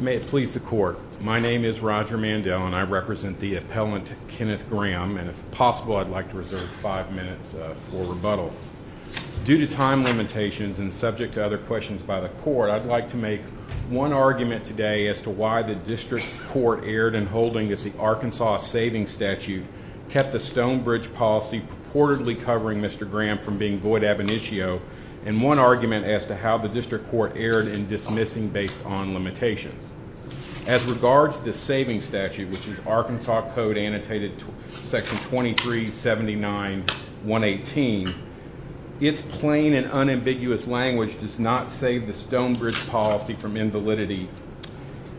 May it please the court. My name is Roger Mandel and I represent the appellant Kenneth Graham and if possible I'd like to reserve five minutes for rebuttal. Due to time limitations and subject to other questions by the court I'd like to make one argument today as to why the district court erred in holding that the Arkansas savings statute kept the Stonebridge policy purportedly covering Mr. Graham from being void ab initio and one argument as to how the district court erred in dismissing based on limitations. As regards this savings statute which is Arkansas code annotated section 2379.118 its plain and unambiguous language does not save the Stonebridge policy from invalidity.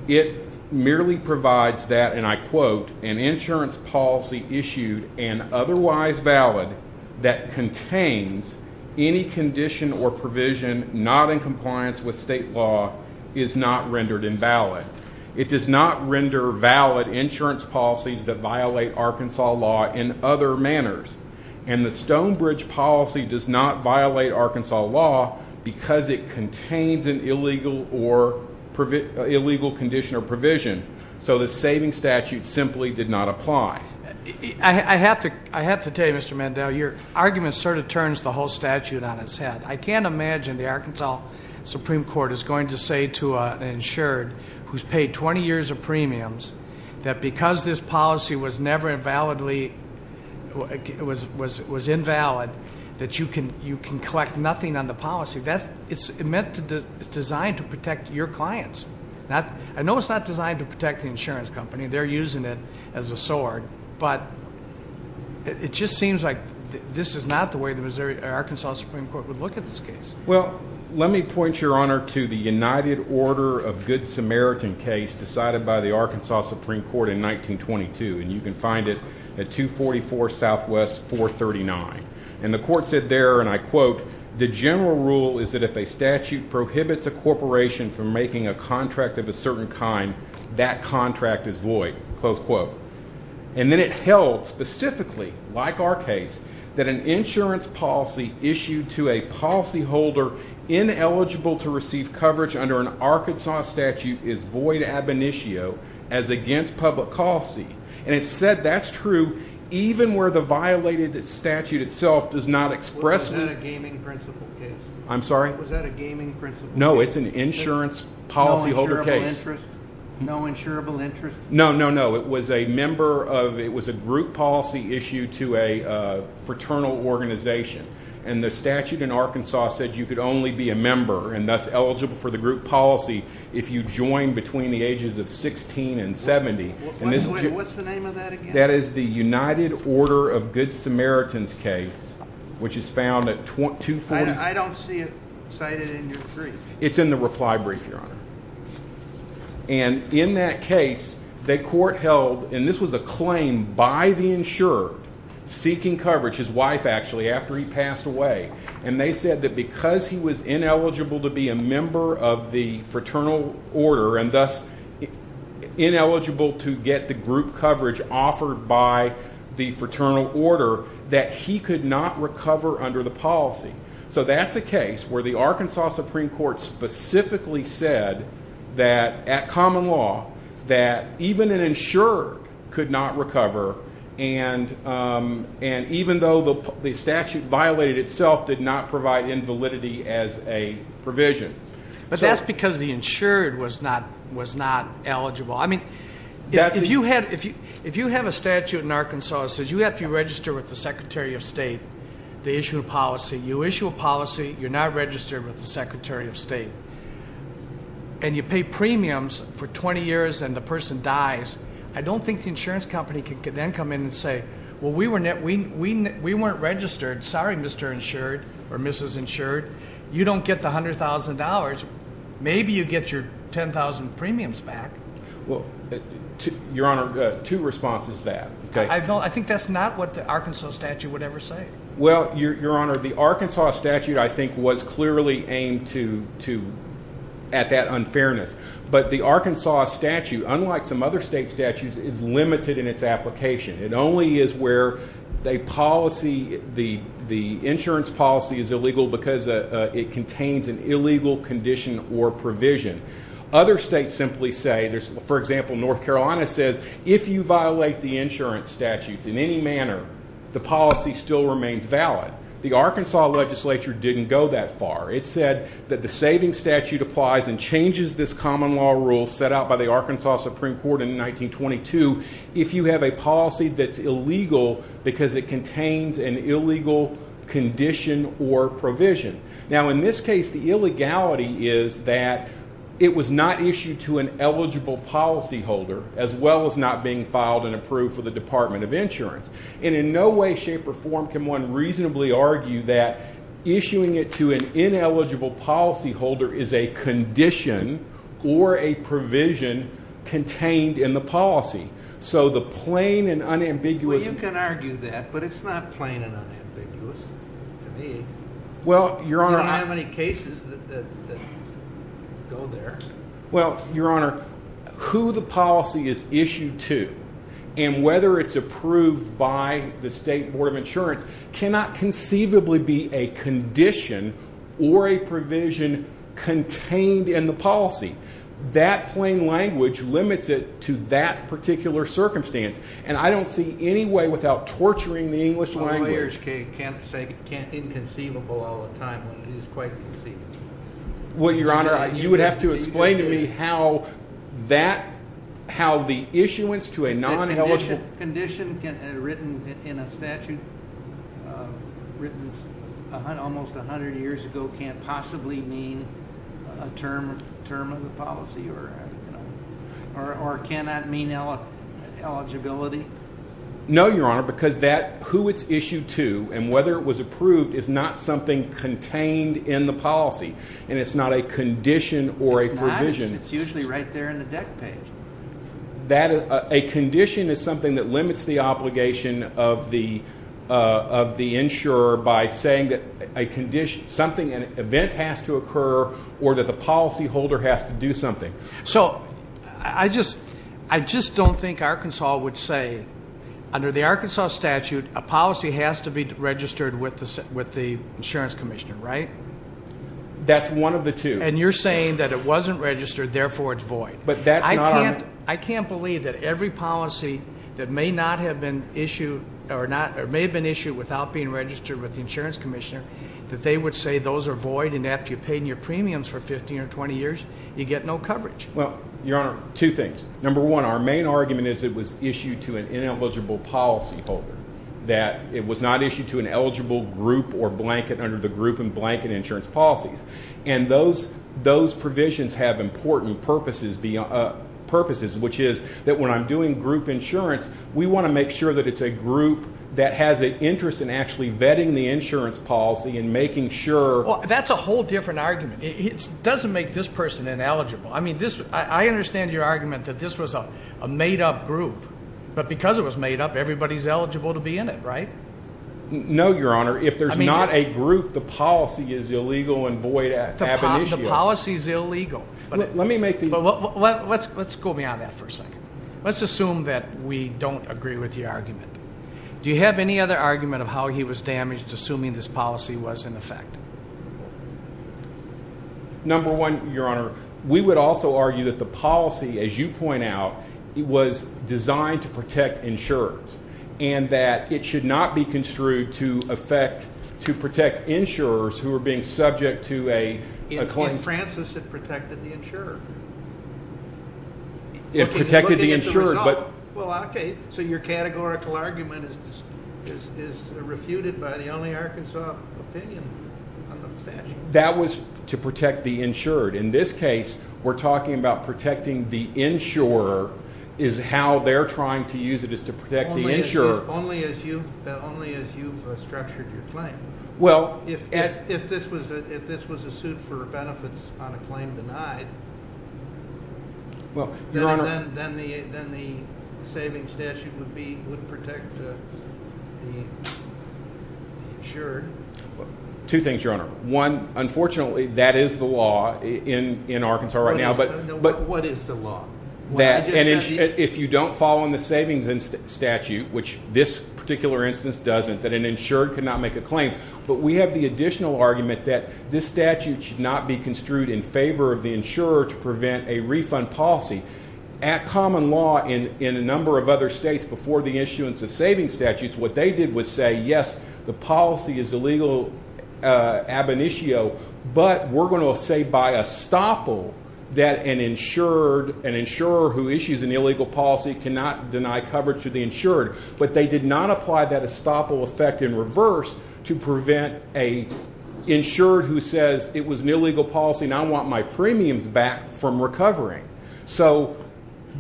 It merely provides that and I quote an insurance policy issued and otherwise valid that contains any condition or provision not in compliance with state law is not rendered invalid. It does not render valid insurance policies that violate Arkansas law in other manners and the Stonebridge policy does not violate Arkansas law because it contains an illegal or illegal condition or provision so the saving statute simply did not apply. I have to I have to tell you Mr. Mandel your argument sort of turns the whole statute on its head. I can't imagine the Arkansas Supreme Court is going to say to an insured who's paid 20 years of premiums that because this policy was never invalidly it was was was invalid that you can you can collect nothing on the policy that's it's meant to design to protect your clients not I know it's not designed to protect the insurance company they're using it as a sword but it just seems like this is not the way the Missouri Arkansas Supreme Court would look at this case. Well let me point your honor to the united order of good samaritan case decided by the Arkansas Supreme Court in 1922 and you can find it at 244 southwest 439 and the court said there and I quote the general rule is that if a statute prohibits a corporation from making a close quote and then it held specifically like our case that an insurance policy issued to a policyholder ineligible to receive coverage under an Arkansas statute is void ab initio as against public policy and it said that's true even where the violated statute itself does not express a gaming principle case I'm sorry was that a gaming principle no it's insurance policyholder case no insurable interest no no no it was a member of it was a group policy issue to a fraternal organization and the statute in Arkansas said you could only be a member and thus eligible for the group policy if you join between the ages of 16 and 70 and this what's the name of that again that is the united order of good samaritans case which is found at 240 I don't see it cited in your brief it's in the reply brief your honor and in that case the court held and this was a claim by the insured seeking coverage his wife actually after he passed away and they said that because he was ineligible to be a member of the fraternal order and thus ineligible to get the group coverage offered by the fraternal order that he could not recover under the policy so that's a case where the Arkansas Supreme Court specifically said that at common law that even an insured could not recover and and even though the statute violated itself did not provide invalidity as a provision but that's because the insured was not was not eligible I mean if you had if you if you have a statute in Arkansas says you have to register with the secretary of state they issued a policy you issue a policy you're not registered with the secretary of state and you pay premiums for 20 years and the person dies I don't think the insurance company can then come in and say well we were net we we weren't registered sorry Mr. insured or Mrs. insured you don't get the $100,000 maybe you get your 10,000 premiums back well your honor two responses that okay I don't I think that's not what the Arkansas statute would ever say well your your honor the Arkansas statute I think was clearly aimed to to at that unfairness but the Arkansas statute unlike some other state statutes is limited in its application it only is where they policy the the insurance policy is illegal because it contains an illegal condition or provision other states simply say there's for example North Carolina says if you violate the insurance statutes in any manner the policy still remains valid the Arkansas legislature didn't go that far it said that the saving statute applies and changes this common law rule set out by the Arkansas Supreme Court in 1922 if you have a that's illegal because it contains an illegal condition or provision now in this case the illegality is that it was not issued to an eligible policy holder as well as not being filed and approved for the Department of Insurance and in no way shape or form can one reasonably argue that issuing it to an ineligible policy holder is a condition or a provision contained in the policy so the plain and unambiguous you can argue that but it's not plain and unambiguous to me well your honor I don't have any cases that go there well your honor who the policy is issued to and whether it's approved by the state board of insurance cannot conceivably be a that particular circumstance and I don't see any way without torturing the English lawyers can't say can't inconceivable all the time when it is quite conceivable well your honor you would have to explain to me how that how the issuance to a non-eligible condition can written in a statute written almost 100 years ago can't possibly mean a term of term of the policy or you know or cannot mean eligibility no your honor because that who it's issued to and whether it was approved is not something contained in the policy and it's not a condition or a provision it's usually right there in the deck page that a condition is something that limits the obligation of the of the insurer by saying that a condition something an event has to occur or that the policy I just I just don't think Arkansas would say under the Arkansas statute a policy has to be registered with the with the insurance commissioner right that's one of the two and you're saying that it wasn't registered therefore it's void but that's I can't I can't believe that every policy that may not have been issued or not or may have been issued without being registered with the insurance commissioner that they would say those are void and after you've paid your premiums for 15 or 20 years you get no coverage well your honor two things number one our main argument is it was issued to an ineligible policy holder that it was not issued to an eligible group or blanket under the group and blanket insurance policies and those those provisions have important purposes beyond purposes which is that when I'm doing group insurance we want to make sure that it's a group that has an interest in actually vetting the insurance policy and making sure that's a whole different argument it doesn't make this person ineligible I mean this I understand your argument that this was a made-up group but because it was made up everybody's eligible to be in it right no your honor if there's not a group the policy is illegal and void at the policy is illegal but let me make the let's let's go beyond that for a second let's assume that we don't agree with the argument do you have any other argument of how he was damaged assuming this policy was in fact number one your honor we would also argue that the policy as you point out it was designed to protect insurers and that it should not be construed to affect to protect insurers who are being subject to a claim francis had protected the insurer it protected the insurer but well okay so your categorical argument is is refuted by the only arkansas opinion that was to protect the insured in this case we're talking about protecting the insurer is how they're trying to use it is to protect the insurer only as you only as you've structured your claim well if if this was if this was a suit for benefits on a claim denied well your honor then the then the saving statute would be would protect the insured two things your honor one unfortunately that is the law in in arkansas right now but but what is the law that and if you don't fall on the savings in statute which this particular instance doesn't that an insured cannot make a claim but we have the additional argument that this statute should not be construed in favor of the insurer to prevent a refund policy at common law in in a number of other states before the issuance of saving statutes what they did was say yes the policy is illegal uh ab initio but we're going to say by a stopple that an insured an insurer who issues an illegal policy cannot deny coverage to the insured but they did not apply that estoppel effect in reverse to prevent a insured who says it was an illegal policy and i want my premiums back from recovering so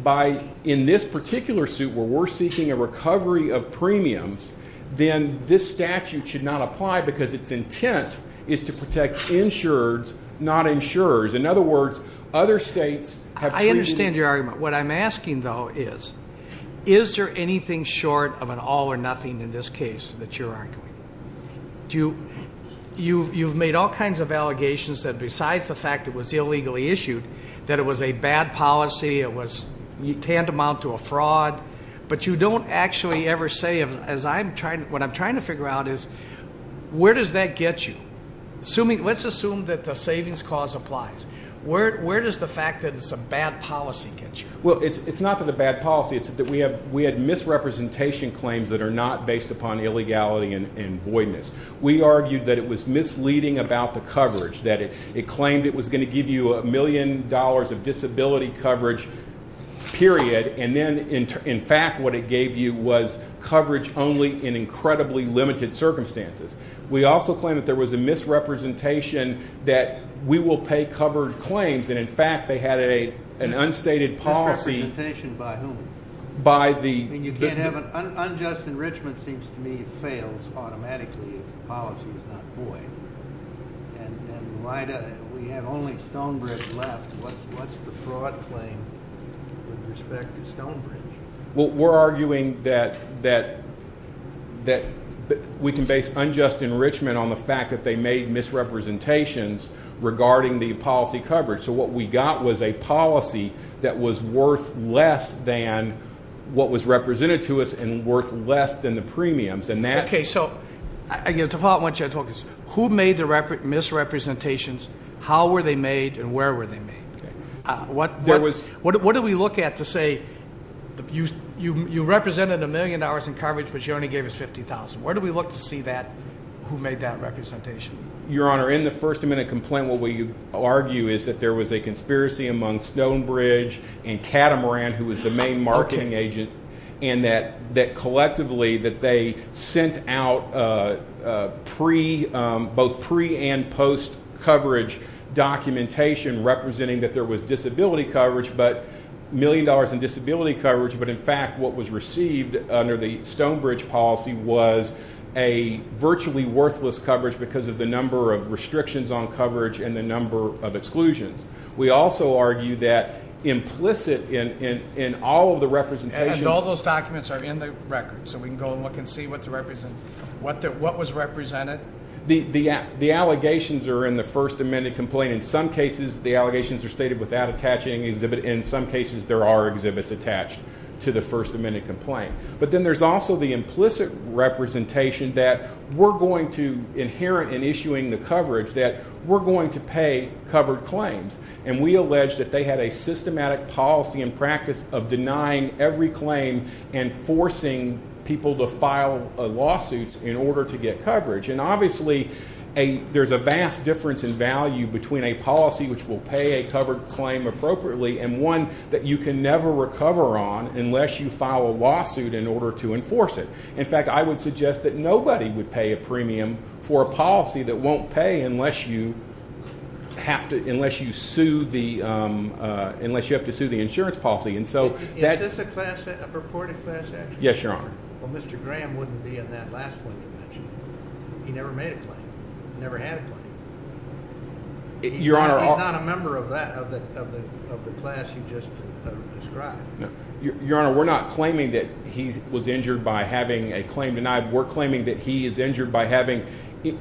by in this particular suit where we're seeking a recovery of premiums then this statute should not apply because its intent is to protect insureds not insurers in other words other states have i understand your argument what i'm asking though is is there anything short of an all or nothing in this case that you're arguing do you you you've made all kinds of allegations that besides the fact it was illegally issued that it was a bad policy it was tantamount to a fraud but you don't actually ever say as i'm trying what i'm trying to figure out is where does that get you assuming let's assume that the savings cause applies where where does the fact that it's a bad policy get you well it's it's not that a bad policy it's that we have we had misrepresentation claims that are not based upon illegality and voidness we argued that it was misleading about the coverage that it claimed it was going to give you a million dollars of disability coverage period and then in fact what it gave you was coverage only in incredibly limited circumstances we also claim that there was a misrepresentation that we will pay covered claims and in fact they had a an unstated policy by whom by the and you can't have an unjust enrichment seems to me it fails automatically if the policy is not void and and why do we have only stonebridge left what's what's the fraud claim with respect to stonebridge well we're arguing that that that we can base unjust enrichment on the fact that they made misrepresentations regarding the policy coverage so what we got was a policy that was worth less than what was represented to us and worth less than the premiums and that okay so i guess the fault once you talk is who made the misrepresentations how were they made and where were they made what there was what what did we look at to say you you represented a million dollars in coverage but you only gave us 50 000 where do we look to see that who made that representation your honor in the first amendment complaint what will you argue is that there was a conspiracy among stonebridge and catamaran who was the main marketing agent and that that collectively that they sent out uh pre um both pre and post coverage documentation representing that there was disability coverage but million dollars in disability coverage but in fact what was received under the stonebridge policy was a virtually worthless coverage because of the number of restrictions on coverage and the number of exclusions we also argue that implicit in in in all of the representations all those documents are in the record so we can go and look and see what to represent what that what was represented the the the allegations are in the first amendment complaint in some cases the allegations are stated without attaching exhibit in some cases there are exhibits attached to the first amendment complaint but then there's also the implicit representation that we're going to inherent in issuing the coverage that we're going to pay covered claims and we allege that they had a systematic policy and practice of denying every claim and forcing people to file lawsuits in order to get coverage and obviously a there's a vast difference in value between a policy which will pay a covered claim appropriately and one that you can never recover on unless you file a lawsuit in order to enforce it in fact i would suggest that nobody would pay a premium for a policy that won't pay unless you have to unless you sue the um uh unless you have to sue the insurance policy and so is this a class a purported class action yes your honor well mr graham wouldn't be in that last point you mentioned he never made a claim never had a claim your honor not a member of that of the of the class you just described no your honor we're not claiming that he was injured by having a claim denied we're claiming that he is injured by having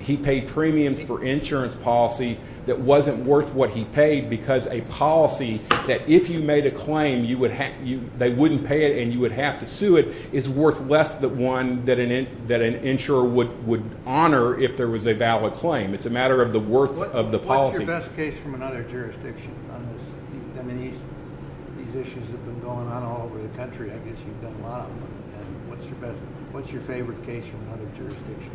he paid premiums for insurance policy that wasn't worth what he paid because a policy that if you made a claim you would have you they wouldn't pay it and you would have to sue it is worth less than one that an that an insurer would would honor if there was a valid claim it's a matter of the worth of the policy best case from another jurisdiction on this i mean these these issues have been going on all over the country i guess you've done a lot of them and what's your best what's your favorite case from another jurisdiction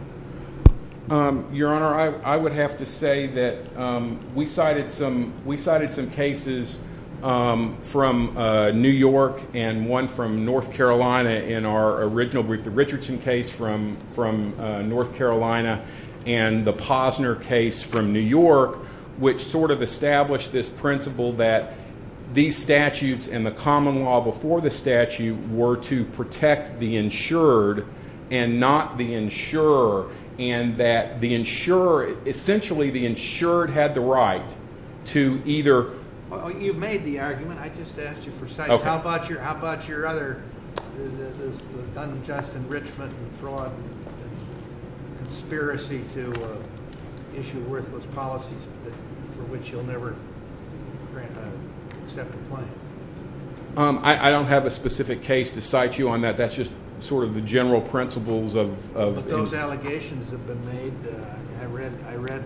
um your honor i i would have to say that um we cited some we cited some cases um from uh new york and one from north carolina in our original brief the richardson case from from uh north carolina and the posner case from new york which sort of established this principle that these statutes and the common law before the statute were to protect the insured and not the insurer and that the insurer essentially the insured had the right to either well you made the argument i just asked you for sites how about your how about your other unjust enrichment and fraud and conspiracy to issue worthless policies for which you'll never accept the claim um i i don't have a specific case to cite you on that that's just sort of the general principles of of those allegations have been made i read i read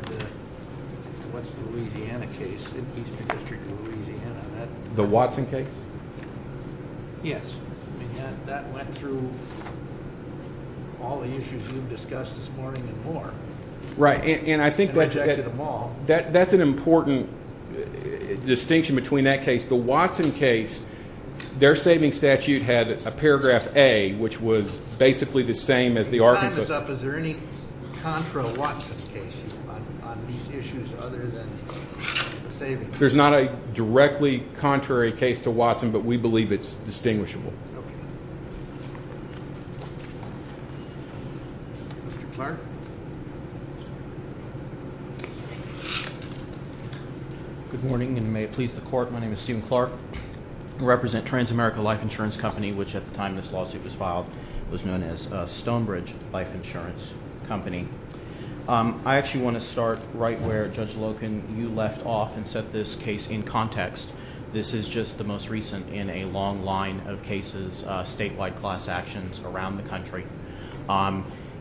what's the louisiana case in eastern district of louisiana the watson case yes that went through all the issues we've discussed this morning and more right and i think that that's an important distinction between that case the watson case their saving statute had a paragraph a which was basically the same as the arkansas up is there any contra watson case on these issues other than saving there's not a directly contrary case to watson but we believe it's distinguishable mr clark good morning and may it please the court my name is stephen clark represent transamerica life insurance company which at the time this lawsuit was filed was known as stonebridge life insurance company um i actually want to start right where judge of cases statewide class actions around the country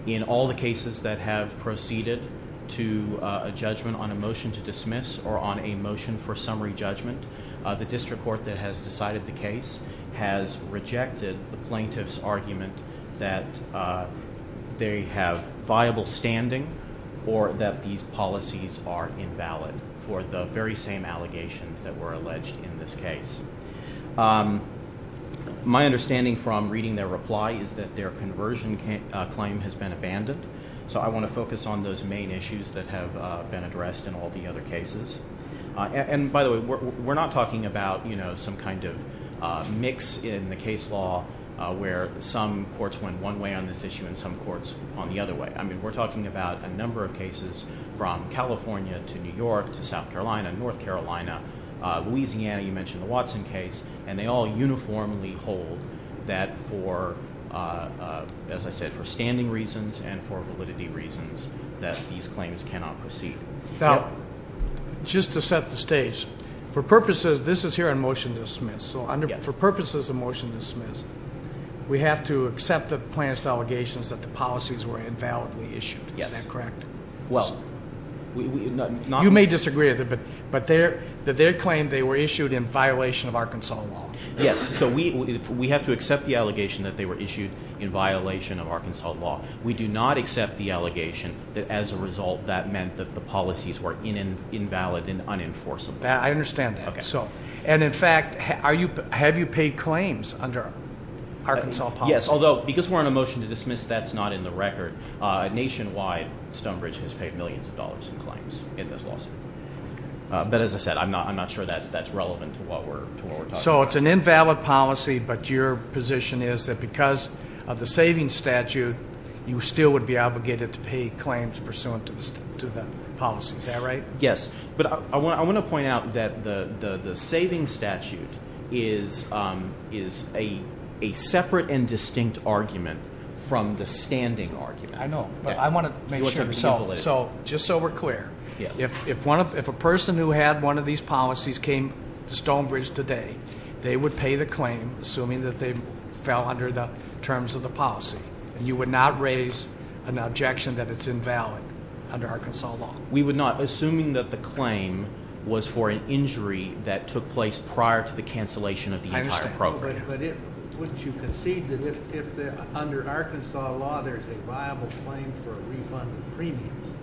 in all the cases that have proceeded to a judgment on a motion to dismiss or on a motion for summary judgment the district court that has decided the case has rejected the plaintiff's argument that they have viable standing or that these policies are invalid for the very same allegations that were alleged in this case my understanding from reading their reply is that their conversion claim has been abandoned so i want to focus on those main issues that have been addressed in all the other cases and by the way we're not talking about you know some kind of mix in the case law where some courts went one way on this issue and some courts on the other way i mean we're talking about a number of watson case and they all uniformly hold that for uh as i said for standing reasons and for validity reasons that these claims cannot proceed now just to set the stage for purposes this is here on motion to dismiss so under for purposes of motion dismissed we have to accept the plaintiff's allegations that the policies were invalidly issued is that correct well we you may disagree but their that their claim they were issued in violation of arkansas law yes so we we have to accept the allegation that they were issued in violation of arkansas law we do not accept the allegation that as a result that meant that the policies were in invalid and unenforceable i understand that so and in fact are you have you paid claims under arkansas yes although because we're on a motion to dismiss that's not in the record uh nationwide stonebridge has paid millions of dollars in claims in this lawsuit but as i said i'm not i'm not sure that's that's relevant to what we're talking so it's an invalid policy but your position is that because of the saving statute you still would be obligated to pay claims pursuant to this to the policy is that right yes but i want i want to point out that the the the saving statute is um is a a separate and distinct argument from the standing argument i know but i want to make sure so so just so we're clear if if one of if a person who had one of these policies came to stonebridge today they would pay the claim assuming that they fell under the terms of the policy and you would not raise an objection that it's invalid under arkansas law we would not assuming that the claim was for an injury that under arkansas law there's a viable claim for a refund of premiums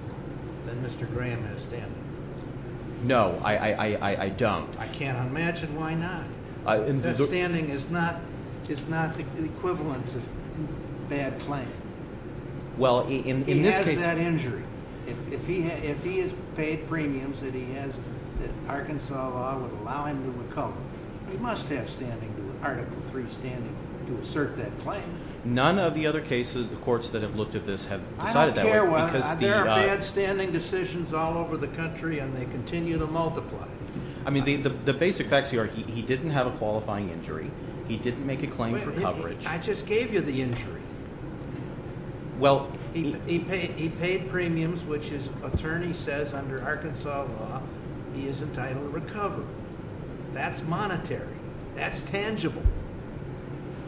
that mr graham has standing no i i i don't i can't imagine why not that standing is not it's not the equivalent of bad claim well in in this case that injury if he had if he has paid premiums that he has that arkansas law would allow him to recover he must have standing to article three standing to assert that claim none of the other cases the courts that have looked at this have decided that i don't care well because there are bad standing decisions all over the country and they continue to multiply i mean the the basic facts here he didn't have a qualifying injury he didn't make a claim for coverage i just gave you the injury well he paid he paid premiums which his attorney says under arkansas law he is entitled to recover that's monetary that's tangible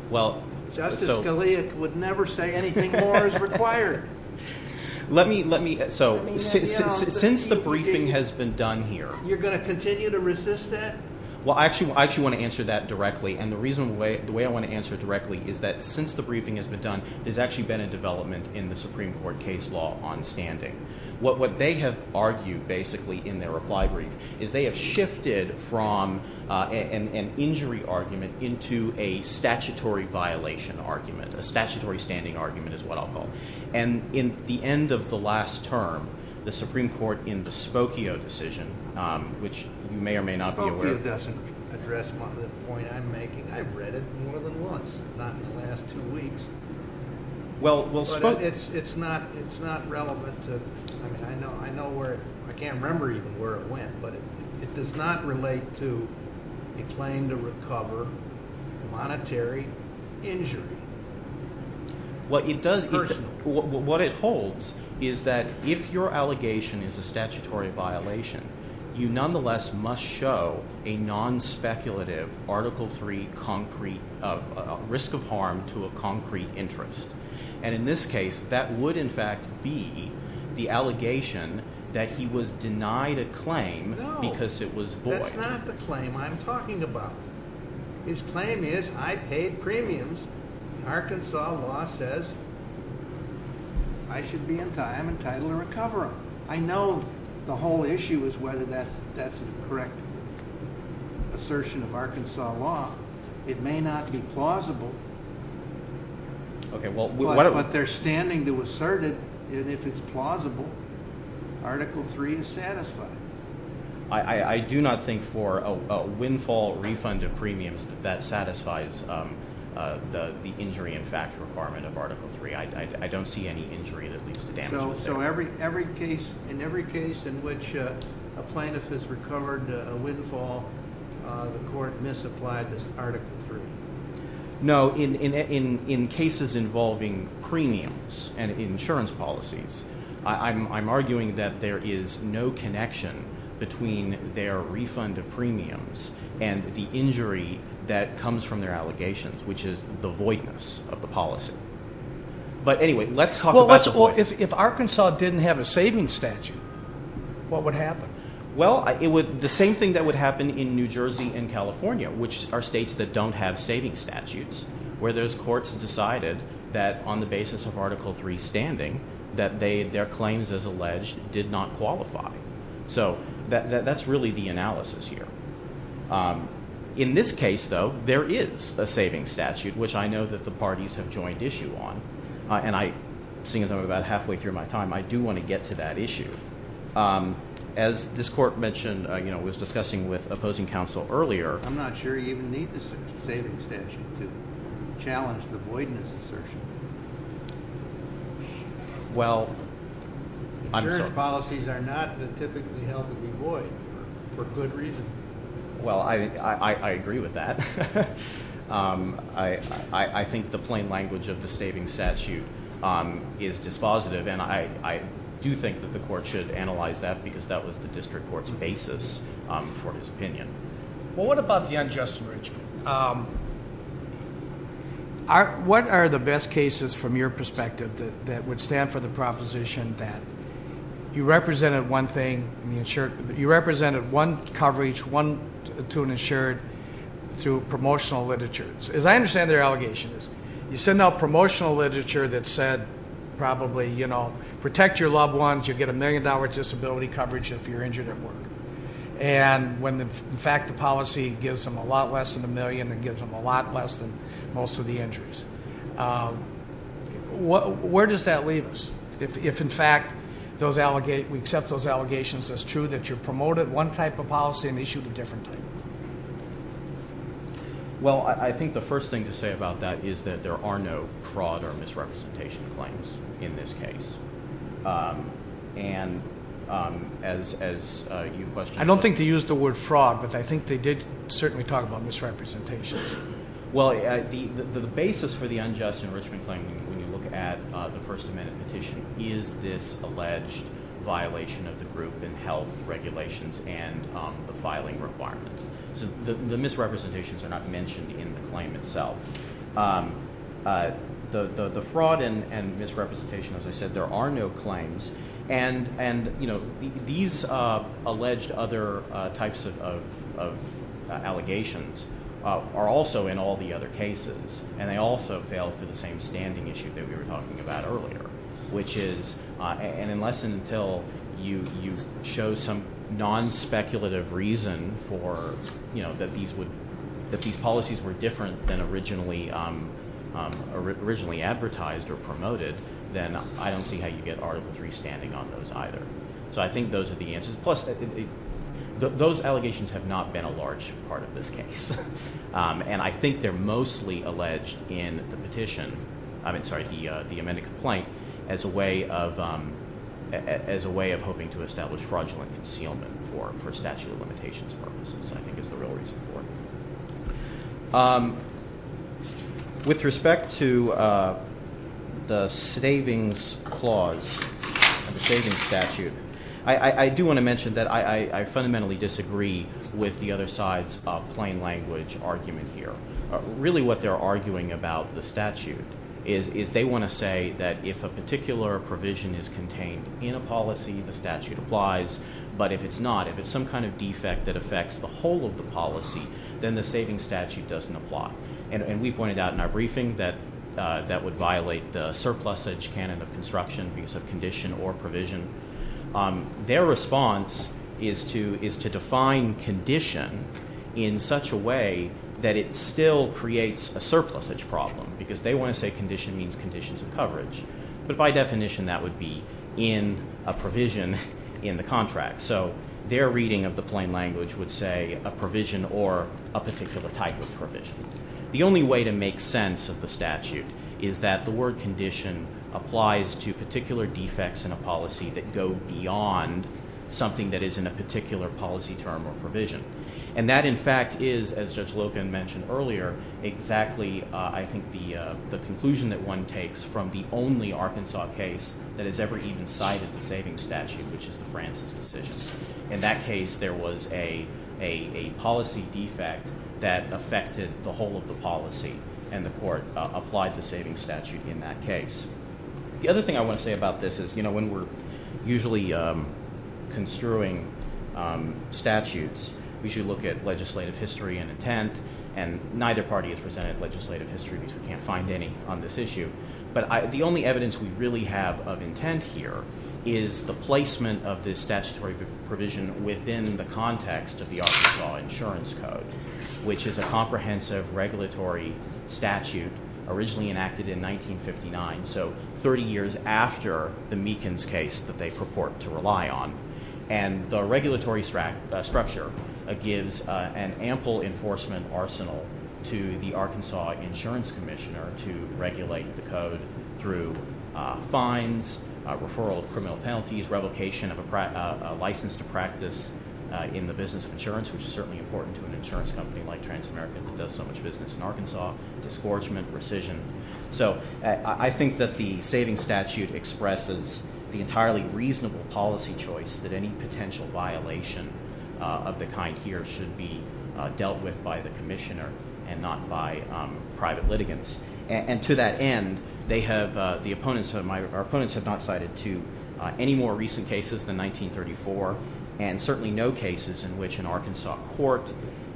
well justice khalil would never say anything more is required let me let me so since the briefing has been done here you're going to continue to resist that well i actually i actually want to answer that directly and the reason why the way i want to answer directly is that since the briefing has been done there's actually been a development in the supreme court case law on standing what what they have argued basically in their reply brief is they have from uh an an injury argument into a statutory violation argument a statutory standing argument is what i'll call and in the end of the last term the supreme court in the spokio decision which you may or may not be aware doesn't address the point i'm making i've read it more than once not in the last two weeks well it's it's not it's not relevant to i mean i know i know where i can't remember even where it went but it does not relate to a claim to recover monetary injury what it does personal what it holds is that if your allegation is a statutory violation you nonetheless must show a non-speculative article three concrete risk of harm to a concrete interest and in this case that would in fact be the allegation that he was denied a claim because it was void that's not the claim i'm talking about his claim is i paid premiums and arkansas law says i should be in time entitled to recover i know the whole issue is whether that's that's the correct assertion of arkansas law it may not be plausible okay well but they're standing to assert it and if it's plausible article three is satisfied i i do not think for a windfall refund of premiums that satisfies um uh the the injury in fact requirement of article three i don't see any injury that leads to damage so every every case in every case in which a plaintiff has recovered a windfall uh the court misapplied this article three no in in in in cases involving premiums and insurance policies i'm i'm arguing that there is no connection between their refund of premiums and the injury that comes from their allegations which is the voidness of the policy but anyway let's talk about the point if arkansas didn't have a savings statute what would happen well it would the same thing that would happen in new jersey and california which are states that don't have saving statutes where those courts decided that on the basis of article three standing that they their claims as alleged did not qualify so that that's really the analysis here um in this case though there is a saving statute which i know that the parties have joined issue on and i seeing as i'm about halfway through my time i do want to get to that issue um as this court mentioned you know was discussing with opposing counsel earlier i'm not sure you even need the saving statute to challenge the voidness assertion well i'm sure policies are not typically held to be void for good reason well i i i agree with that um i i i think the plain language of the saving statute um is dispositive and i i do think that the court should analyze that because that was the district court's basis um for his opinion well what about the unjust enrichment um are what are the best cases from your perspective that would stand for the proposition that you represented one thing the insured you represented one coverage one to an insured through promotional literature as i understand their allegation is you send out promotional literature that said probably you know protect your loved ones you get a million dollars disability coverage if you're injured at work and when the in fact the policy gives them a lot less than a million and gives them a lot less than most of the injuries what where does that leave us if if in fact those allegate we accept those allegations as true that you're promoted one type of policy and issued a different type well i think the first thing to say about that is that there are no fraud or misrepresentation claims in this case um and um as as uh you question i don't think they use the word fraud but i think they did certainly talk about misrepresentations well the the basis for the unjust enrichment claim when you look at uh first amendment petition is this alleged violation of the group and health regulations and um the filing requirements so the the misrepresentations are not mentioned in the claim itself um uh the the the fraud and and misrepresentation as i said there are no claims and and you know these uh alleged other uh types of of allegations uh are also in all the other cases and they also fail for the same standing issue that we were talking about earlier which is uh and unless and until you you show some non-speculative reason for you know that these would that these policies were different than originally um um originally advertised or promoted then i don't see how you get article three standing on those either so i think those are the answers plus those allegations have not been a large part of this case um and i think they're mostly alleged in the petition i mean sorry the uh the amended complaint as a way of um as a way of hoping to establish fraudulent concealment for for statute of limitations purposes i think is the real reason for um with respect to uh the savings clause and the savings statute i i do want to mention that i i i fundamentally disagree with the other side's uh plain language argument here really what they're arguing about the statute is is they want to say that if a particular provision is contained in a policy the statute applies but if it's not if it's some kind of defect that affects the whole of the policy then the saving statute doesn't apply and and we pointed out in our briefing that uh that would violate the surplusage canon of construction because of condition or provision um their response is to is to define condition in such a way that it still creates a surplusage problem because they want to say condition means conditions of coverage but by definition that would be in a provision in the contract so their reading of the plain language would say a provision or a particular type of provision the only way to make sense of the statute is that the word condition applies to particular defects in a policy that go beyond something that is in a particular policy term or provision and that in fact is as judge logan mentioned earlier exactly uh i think the uh the conclusion that one takes from the only arkansas case that has ever even cited the saving statute which is the francis decision in that case there was a a a policy defect that affected the whole of the policy and the court applied the saving statute in that case the other thing i want to say about this is you know when we're usually um construing um statutes we should look at legislative history and intent and neither party has presented legislative history because we can't find any on this issue but the only evidence we really have of intent here is the placement of this statutory provision within the context of the arkansas insurance code which is a comprehensive regulatory statute originally enacted in 1959 so 30 years after the meekins case that they purport to rely on and the regulatory structure gives an ample enforcement arsenal to the arkansas insurance commissioner to regulate the code through fines referral criminal penalties revocation of a license to practice in the business of insurance which is certainly important to an american that does so much business in arkansas disgorgement precision so i think that the saving statute expresses the entirely reasonable policy choice that any potential violation of the kind here should be dealt with by the commissioner and not by private litigants and to that end they have the opponents of my opponents have not cited to any more recent cases than 1934 and certainly no cases in which an arkansas court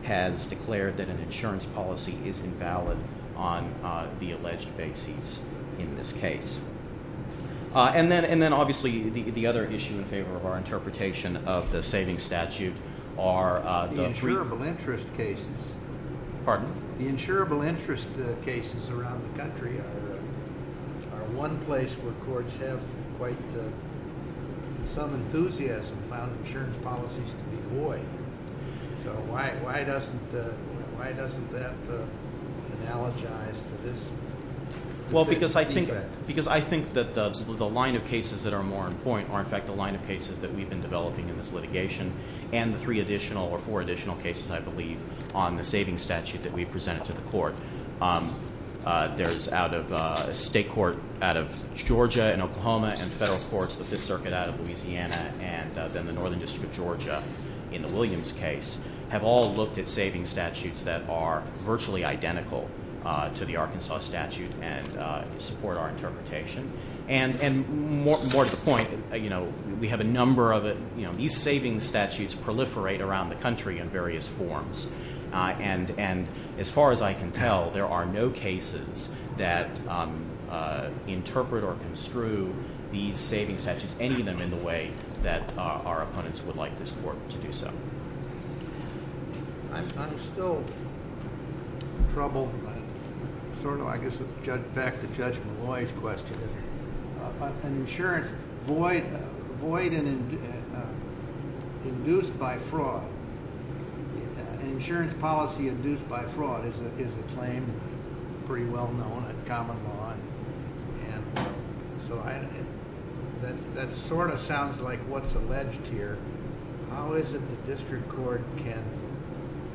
has declared that an insurance policy is invalid on the alleged bases in this case and then and then obviously the the other issue in favor of our interpretation of the saving statute are the insurable interest cases pardon the insurable interest cases around the country are one place where courts have quite some enthusiasm found insurance policies to be void so why why doesn't why doesn't that analogize to this well because i think because i think that the line of cases that are more important are in fact the line of cases that we've been developing in this litigation and the three additional or four additional cases i believe on the saving statute that we presented to the court there's out of a state court out of georgia and oklahoma and federal courts the fifth circuit out of the northern district of georgia in the williams case have all looked at saving statutes that are virtually identical to the arkansas statute and support our interpretation and and more to the point you know we have a number of it you know these savings statutes proliferate around the country in various forms and and as far as i can tell there are no cases that interpret or construe these saving statutes any of them in the way that our opponents would like this court to do so i'm still in trouble sort of i guess judge back to judge maloy's question an insurance void void and induced by fraud an insurance policy induced by fraud is a claim pretty well known at common law and so i that that sort of sounds like what's alleged here how is it the district court can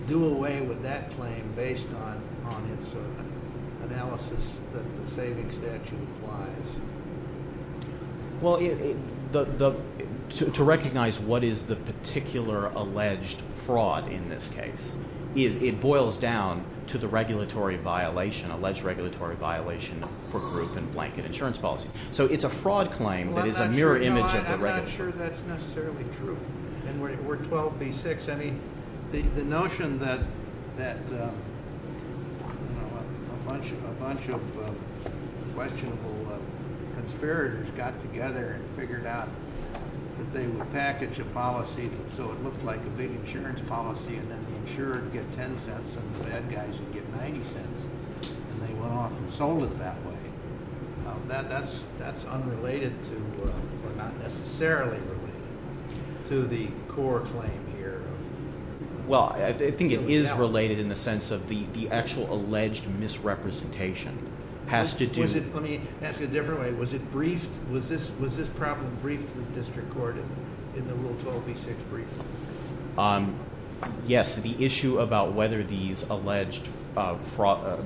do away with that claim based on on its analysis that the saving statute applies well the the to recognize what is the particular alleged fraud in this case is it boils down to the regulatory violation alleged regulatory violation for group and blanket insurance policies so it's a fraud claim that is a mirror image of the register that's necessarily true and we're 12 v6 i mean the the notion that that a bunch of a bunch of questionable conspirators got together and figured out that they would package a policy so it looked like big insurance policy and then the insured get 10 cents and the bad guys would get 90 cents and they went off and sold it that way that that's that's unrelated to or not necessarily related to the core claim here well i think it is related in the sense of the the actual alleged misrepresentation has to do is it let me ask a different way was it briefed was this was this problem briefed to the district court in the rule 12 v6 briefing um yes the issue about whether these alleged uh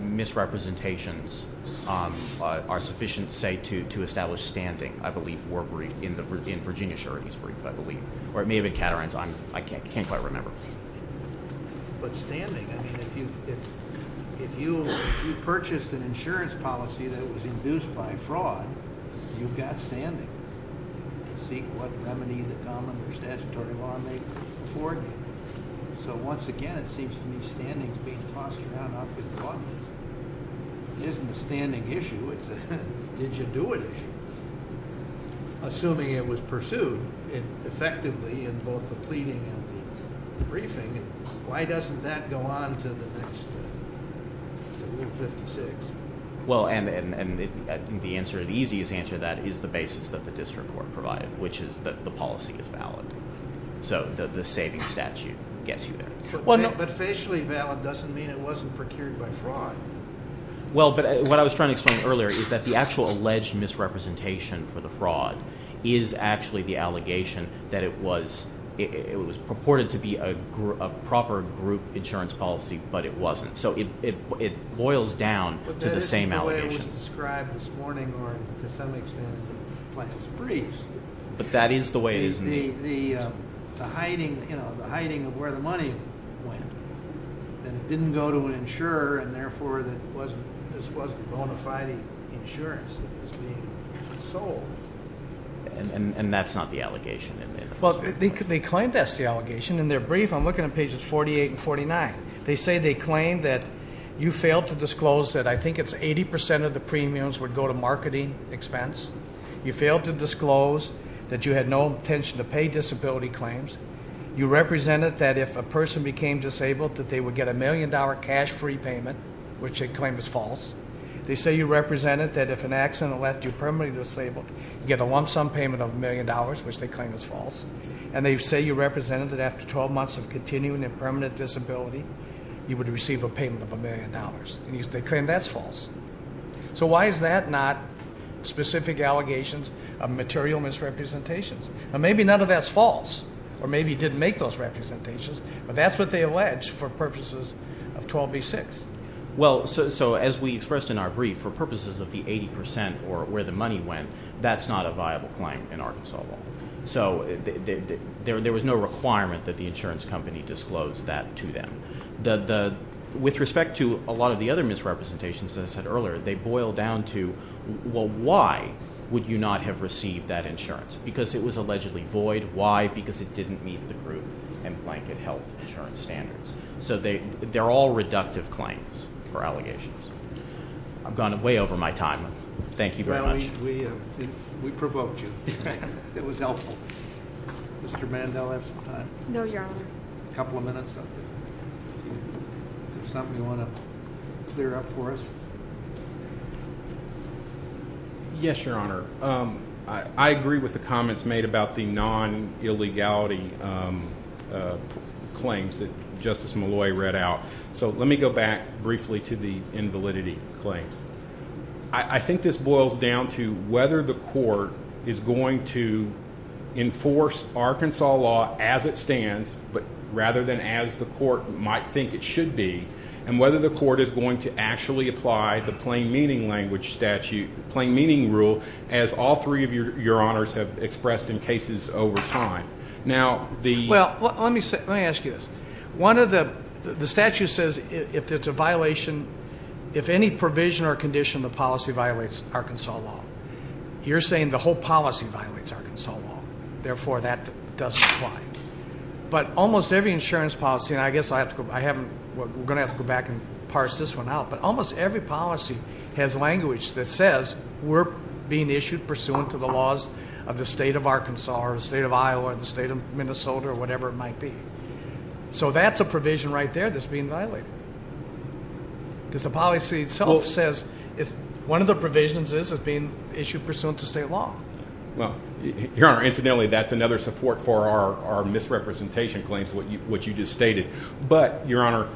misrepresentations um are sufficient say to to establish standing i believe were briefed in the in virginia surety's brief i believe or it may have been catarines i'm i can't can't quite remember but standing i mean if you if if you if you purchased an insurance policy that was induced by fraud you've got standing to seek what remedy the common or statutory law may afford you so once again it seems to me standings being tossed around it isn't a standing issue it's a did you do it issue assuming it was pursued and effectively in both the pleading and the briefing why doesn't that go on to the next 156 well and and and the answer the easiest answer that is the basis that the district court provided which is that the policy is valid so the the saving statute gets you there well but facially valid doesn't mean it wasn't procured by fraud well but what i was trying to explain earlier is that the actual alleged misrepresentation for the fraud is actually the allegation that it was it was purported to be a group a proper group insurance policy but it wasn't so it it it boils down to the same allegation described this morning or to some extent plant is brief but that is the way it is the the uh the hiding you know the hiding of where the money went and it didn't go to an insurer and therefore that wasn't this wasn't bona fide insurance that was sold and and that's not the allegation well they claim that's the allegation in their brief i'm looking at pages 48 and 49 they say they claim that you failed to disclose that i think it's 80 of the premiums would go to marketing expense you failed to disclose that you had no intention to pay disability claims you represented that if a person became disabled that they would get a million dollar cash free payment which they claim is false they say you represented that if an accident left you permanently disabled you get a lump sum payment of a million dollars which they claim is false and they say you represented that after 12 months of continuing their permanent disability you would receive a payment of a million dollars and they claim that's false so why is that not specific allegations of material misrepresentations now maybe none of that's false or maybe you didn't make those representations but that's what they allege for purposes of 12b6 well so as we expressed in our brief for purposes of the 80 percent or where the money went that's not a viable claim in arkansas law so there was no requirement that the insurance company disclosed that to them the the with respect to a lot of the other misrepresentations as i said earlier they boil down to well why would you not have received that insurance because it was allegedly void why because it didn't meet the group and blanket health insurance standards so they they're all reductive claims for allegations i've gone way over my time thank you very much we we provoked you it was helpful mr mandel have some time no your honor a couple of minutes something you want to clear up for us yes your honor um i i agree with the comments made about the non-illegality claims that justice malloy read out so let me go back briefly to the invalidity claims i i think this boils down to whether the court is going to enforce arkansas law as it stands but rather than as the court might think it should be and whether the court is going to actually apply the plain meaning language statute plain meaning rule as all three your honors have expressed in cases over time now the well let me say let me ask you this one of the the statute says if it's a violation if any provision or condition the policy violates arkansas law you're saying the whole policy violates arkansas law therefore that doesn't apply but almost every insurance policy and i guess i have to go i haven't we're going to have to go back and parse this one out but almost every policy has language that says we're being issued pursuant to the laws of the state of arkansas or the state of iowa the state of minnesota or whatever it might be so that's a provision right there that's being violated because the policy itself says if one of the provisions is being issued pursuant to state law well your honor incidentally that's another support for our our misrepresentation claims what you what you just stated but your honor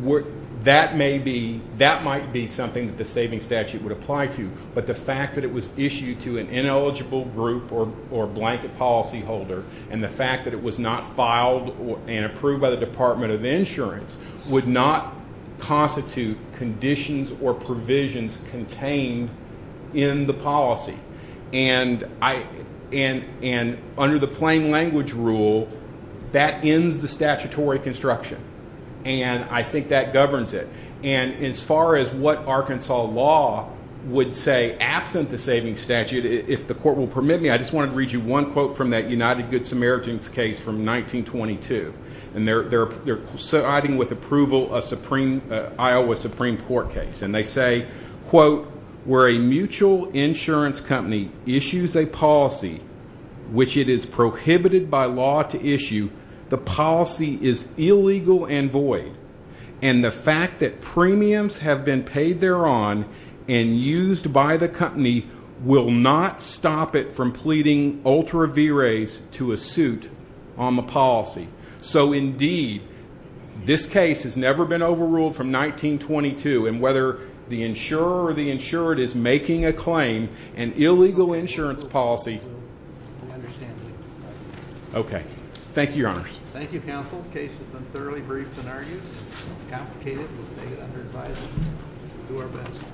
what that may be that might be something that the saving statute would apply to but the fact that it was issued to an ineligible group or or blanket policy holder and the fact that it was not filed and approved by the department of insurance would not constitute conditions or provisions contained in the policy and i and and under the plain language rule that ends the statutory construction and i think that governs it and as far as what arkansas law would say absent the savings statute if the court will permit me i just wanted to read you one quote from that united good samaritans case from 1922 and they're they're they're siding with approval a supreme iowa supreme court case and they say quote where a mutual insurance company issues a policy which it is prohibited by law to issue the policy is illegal and void and the fact that used by the company will not stop it from pleading ultra v-rays to a suit on the policy so indeed this case has never been overruled from 1922 and whether the insurer or the insured is making a claim an illegal insurance policy i understand okay thank you your honors thank you we'll take it under advisement we'll do our best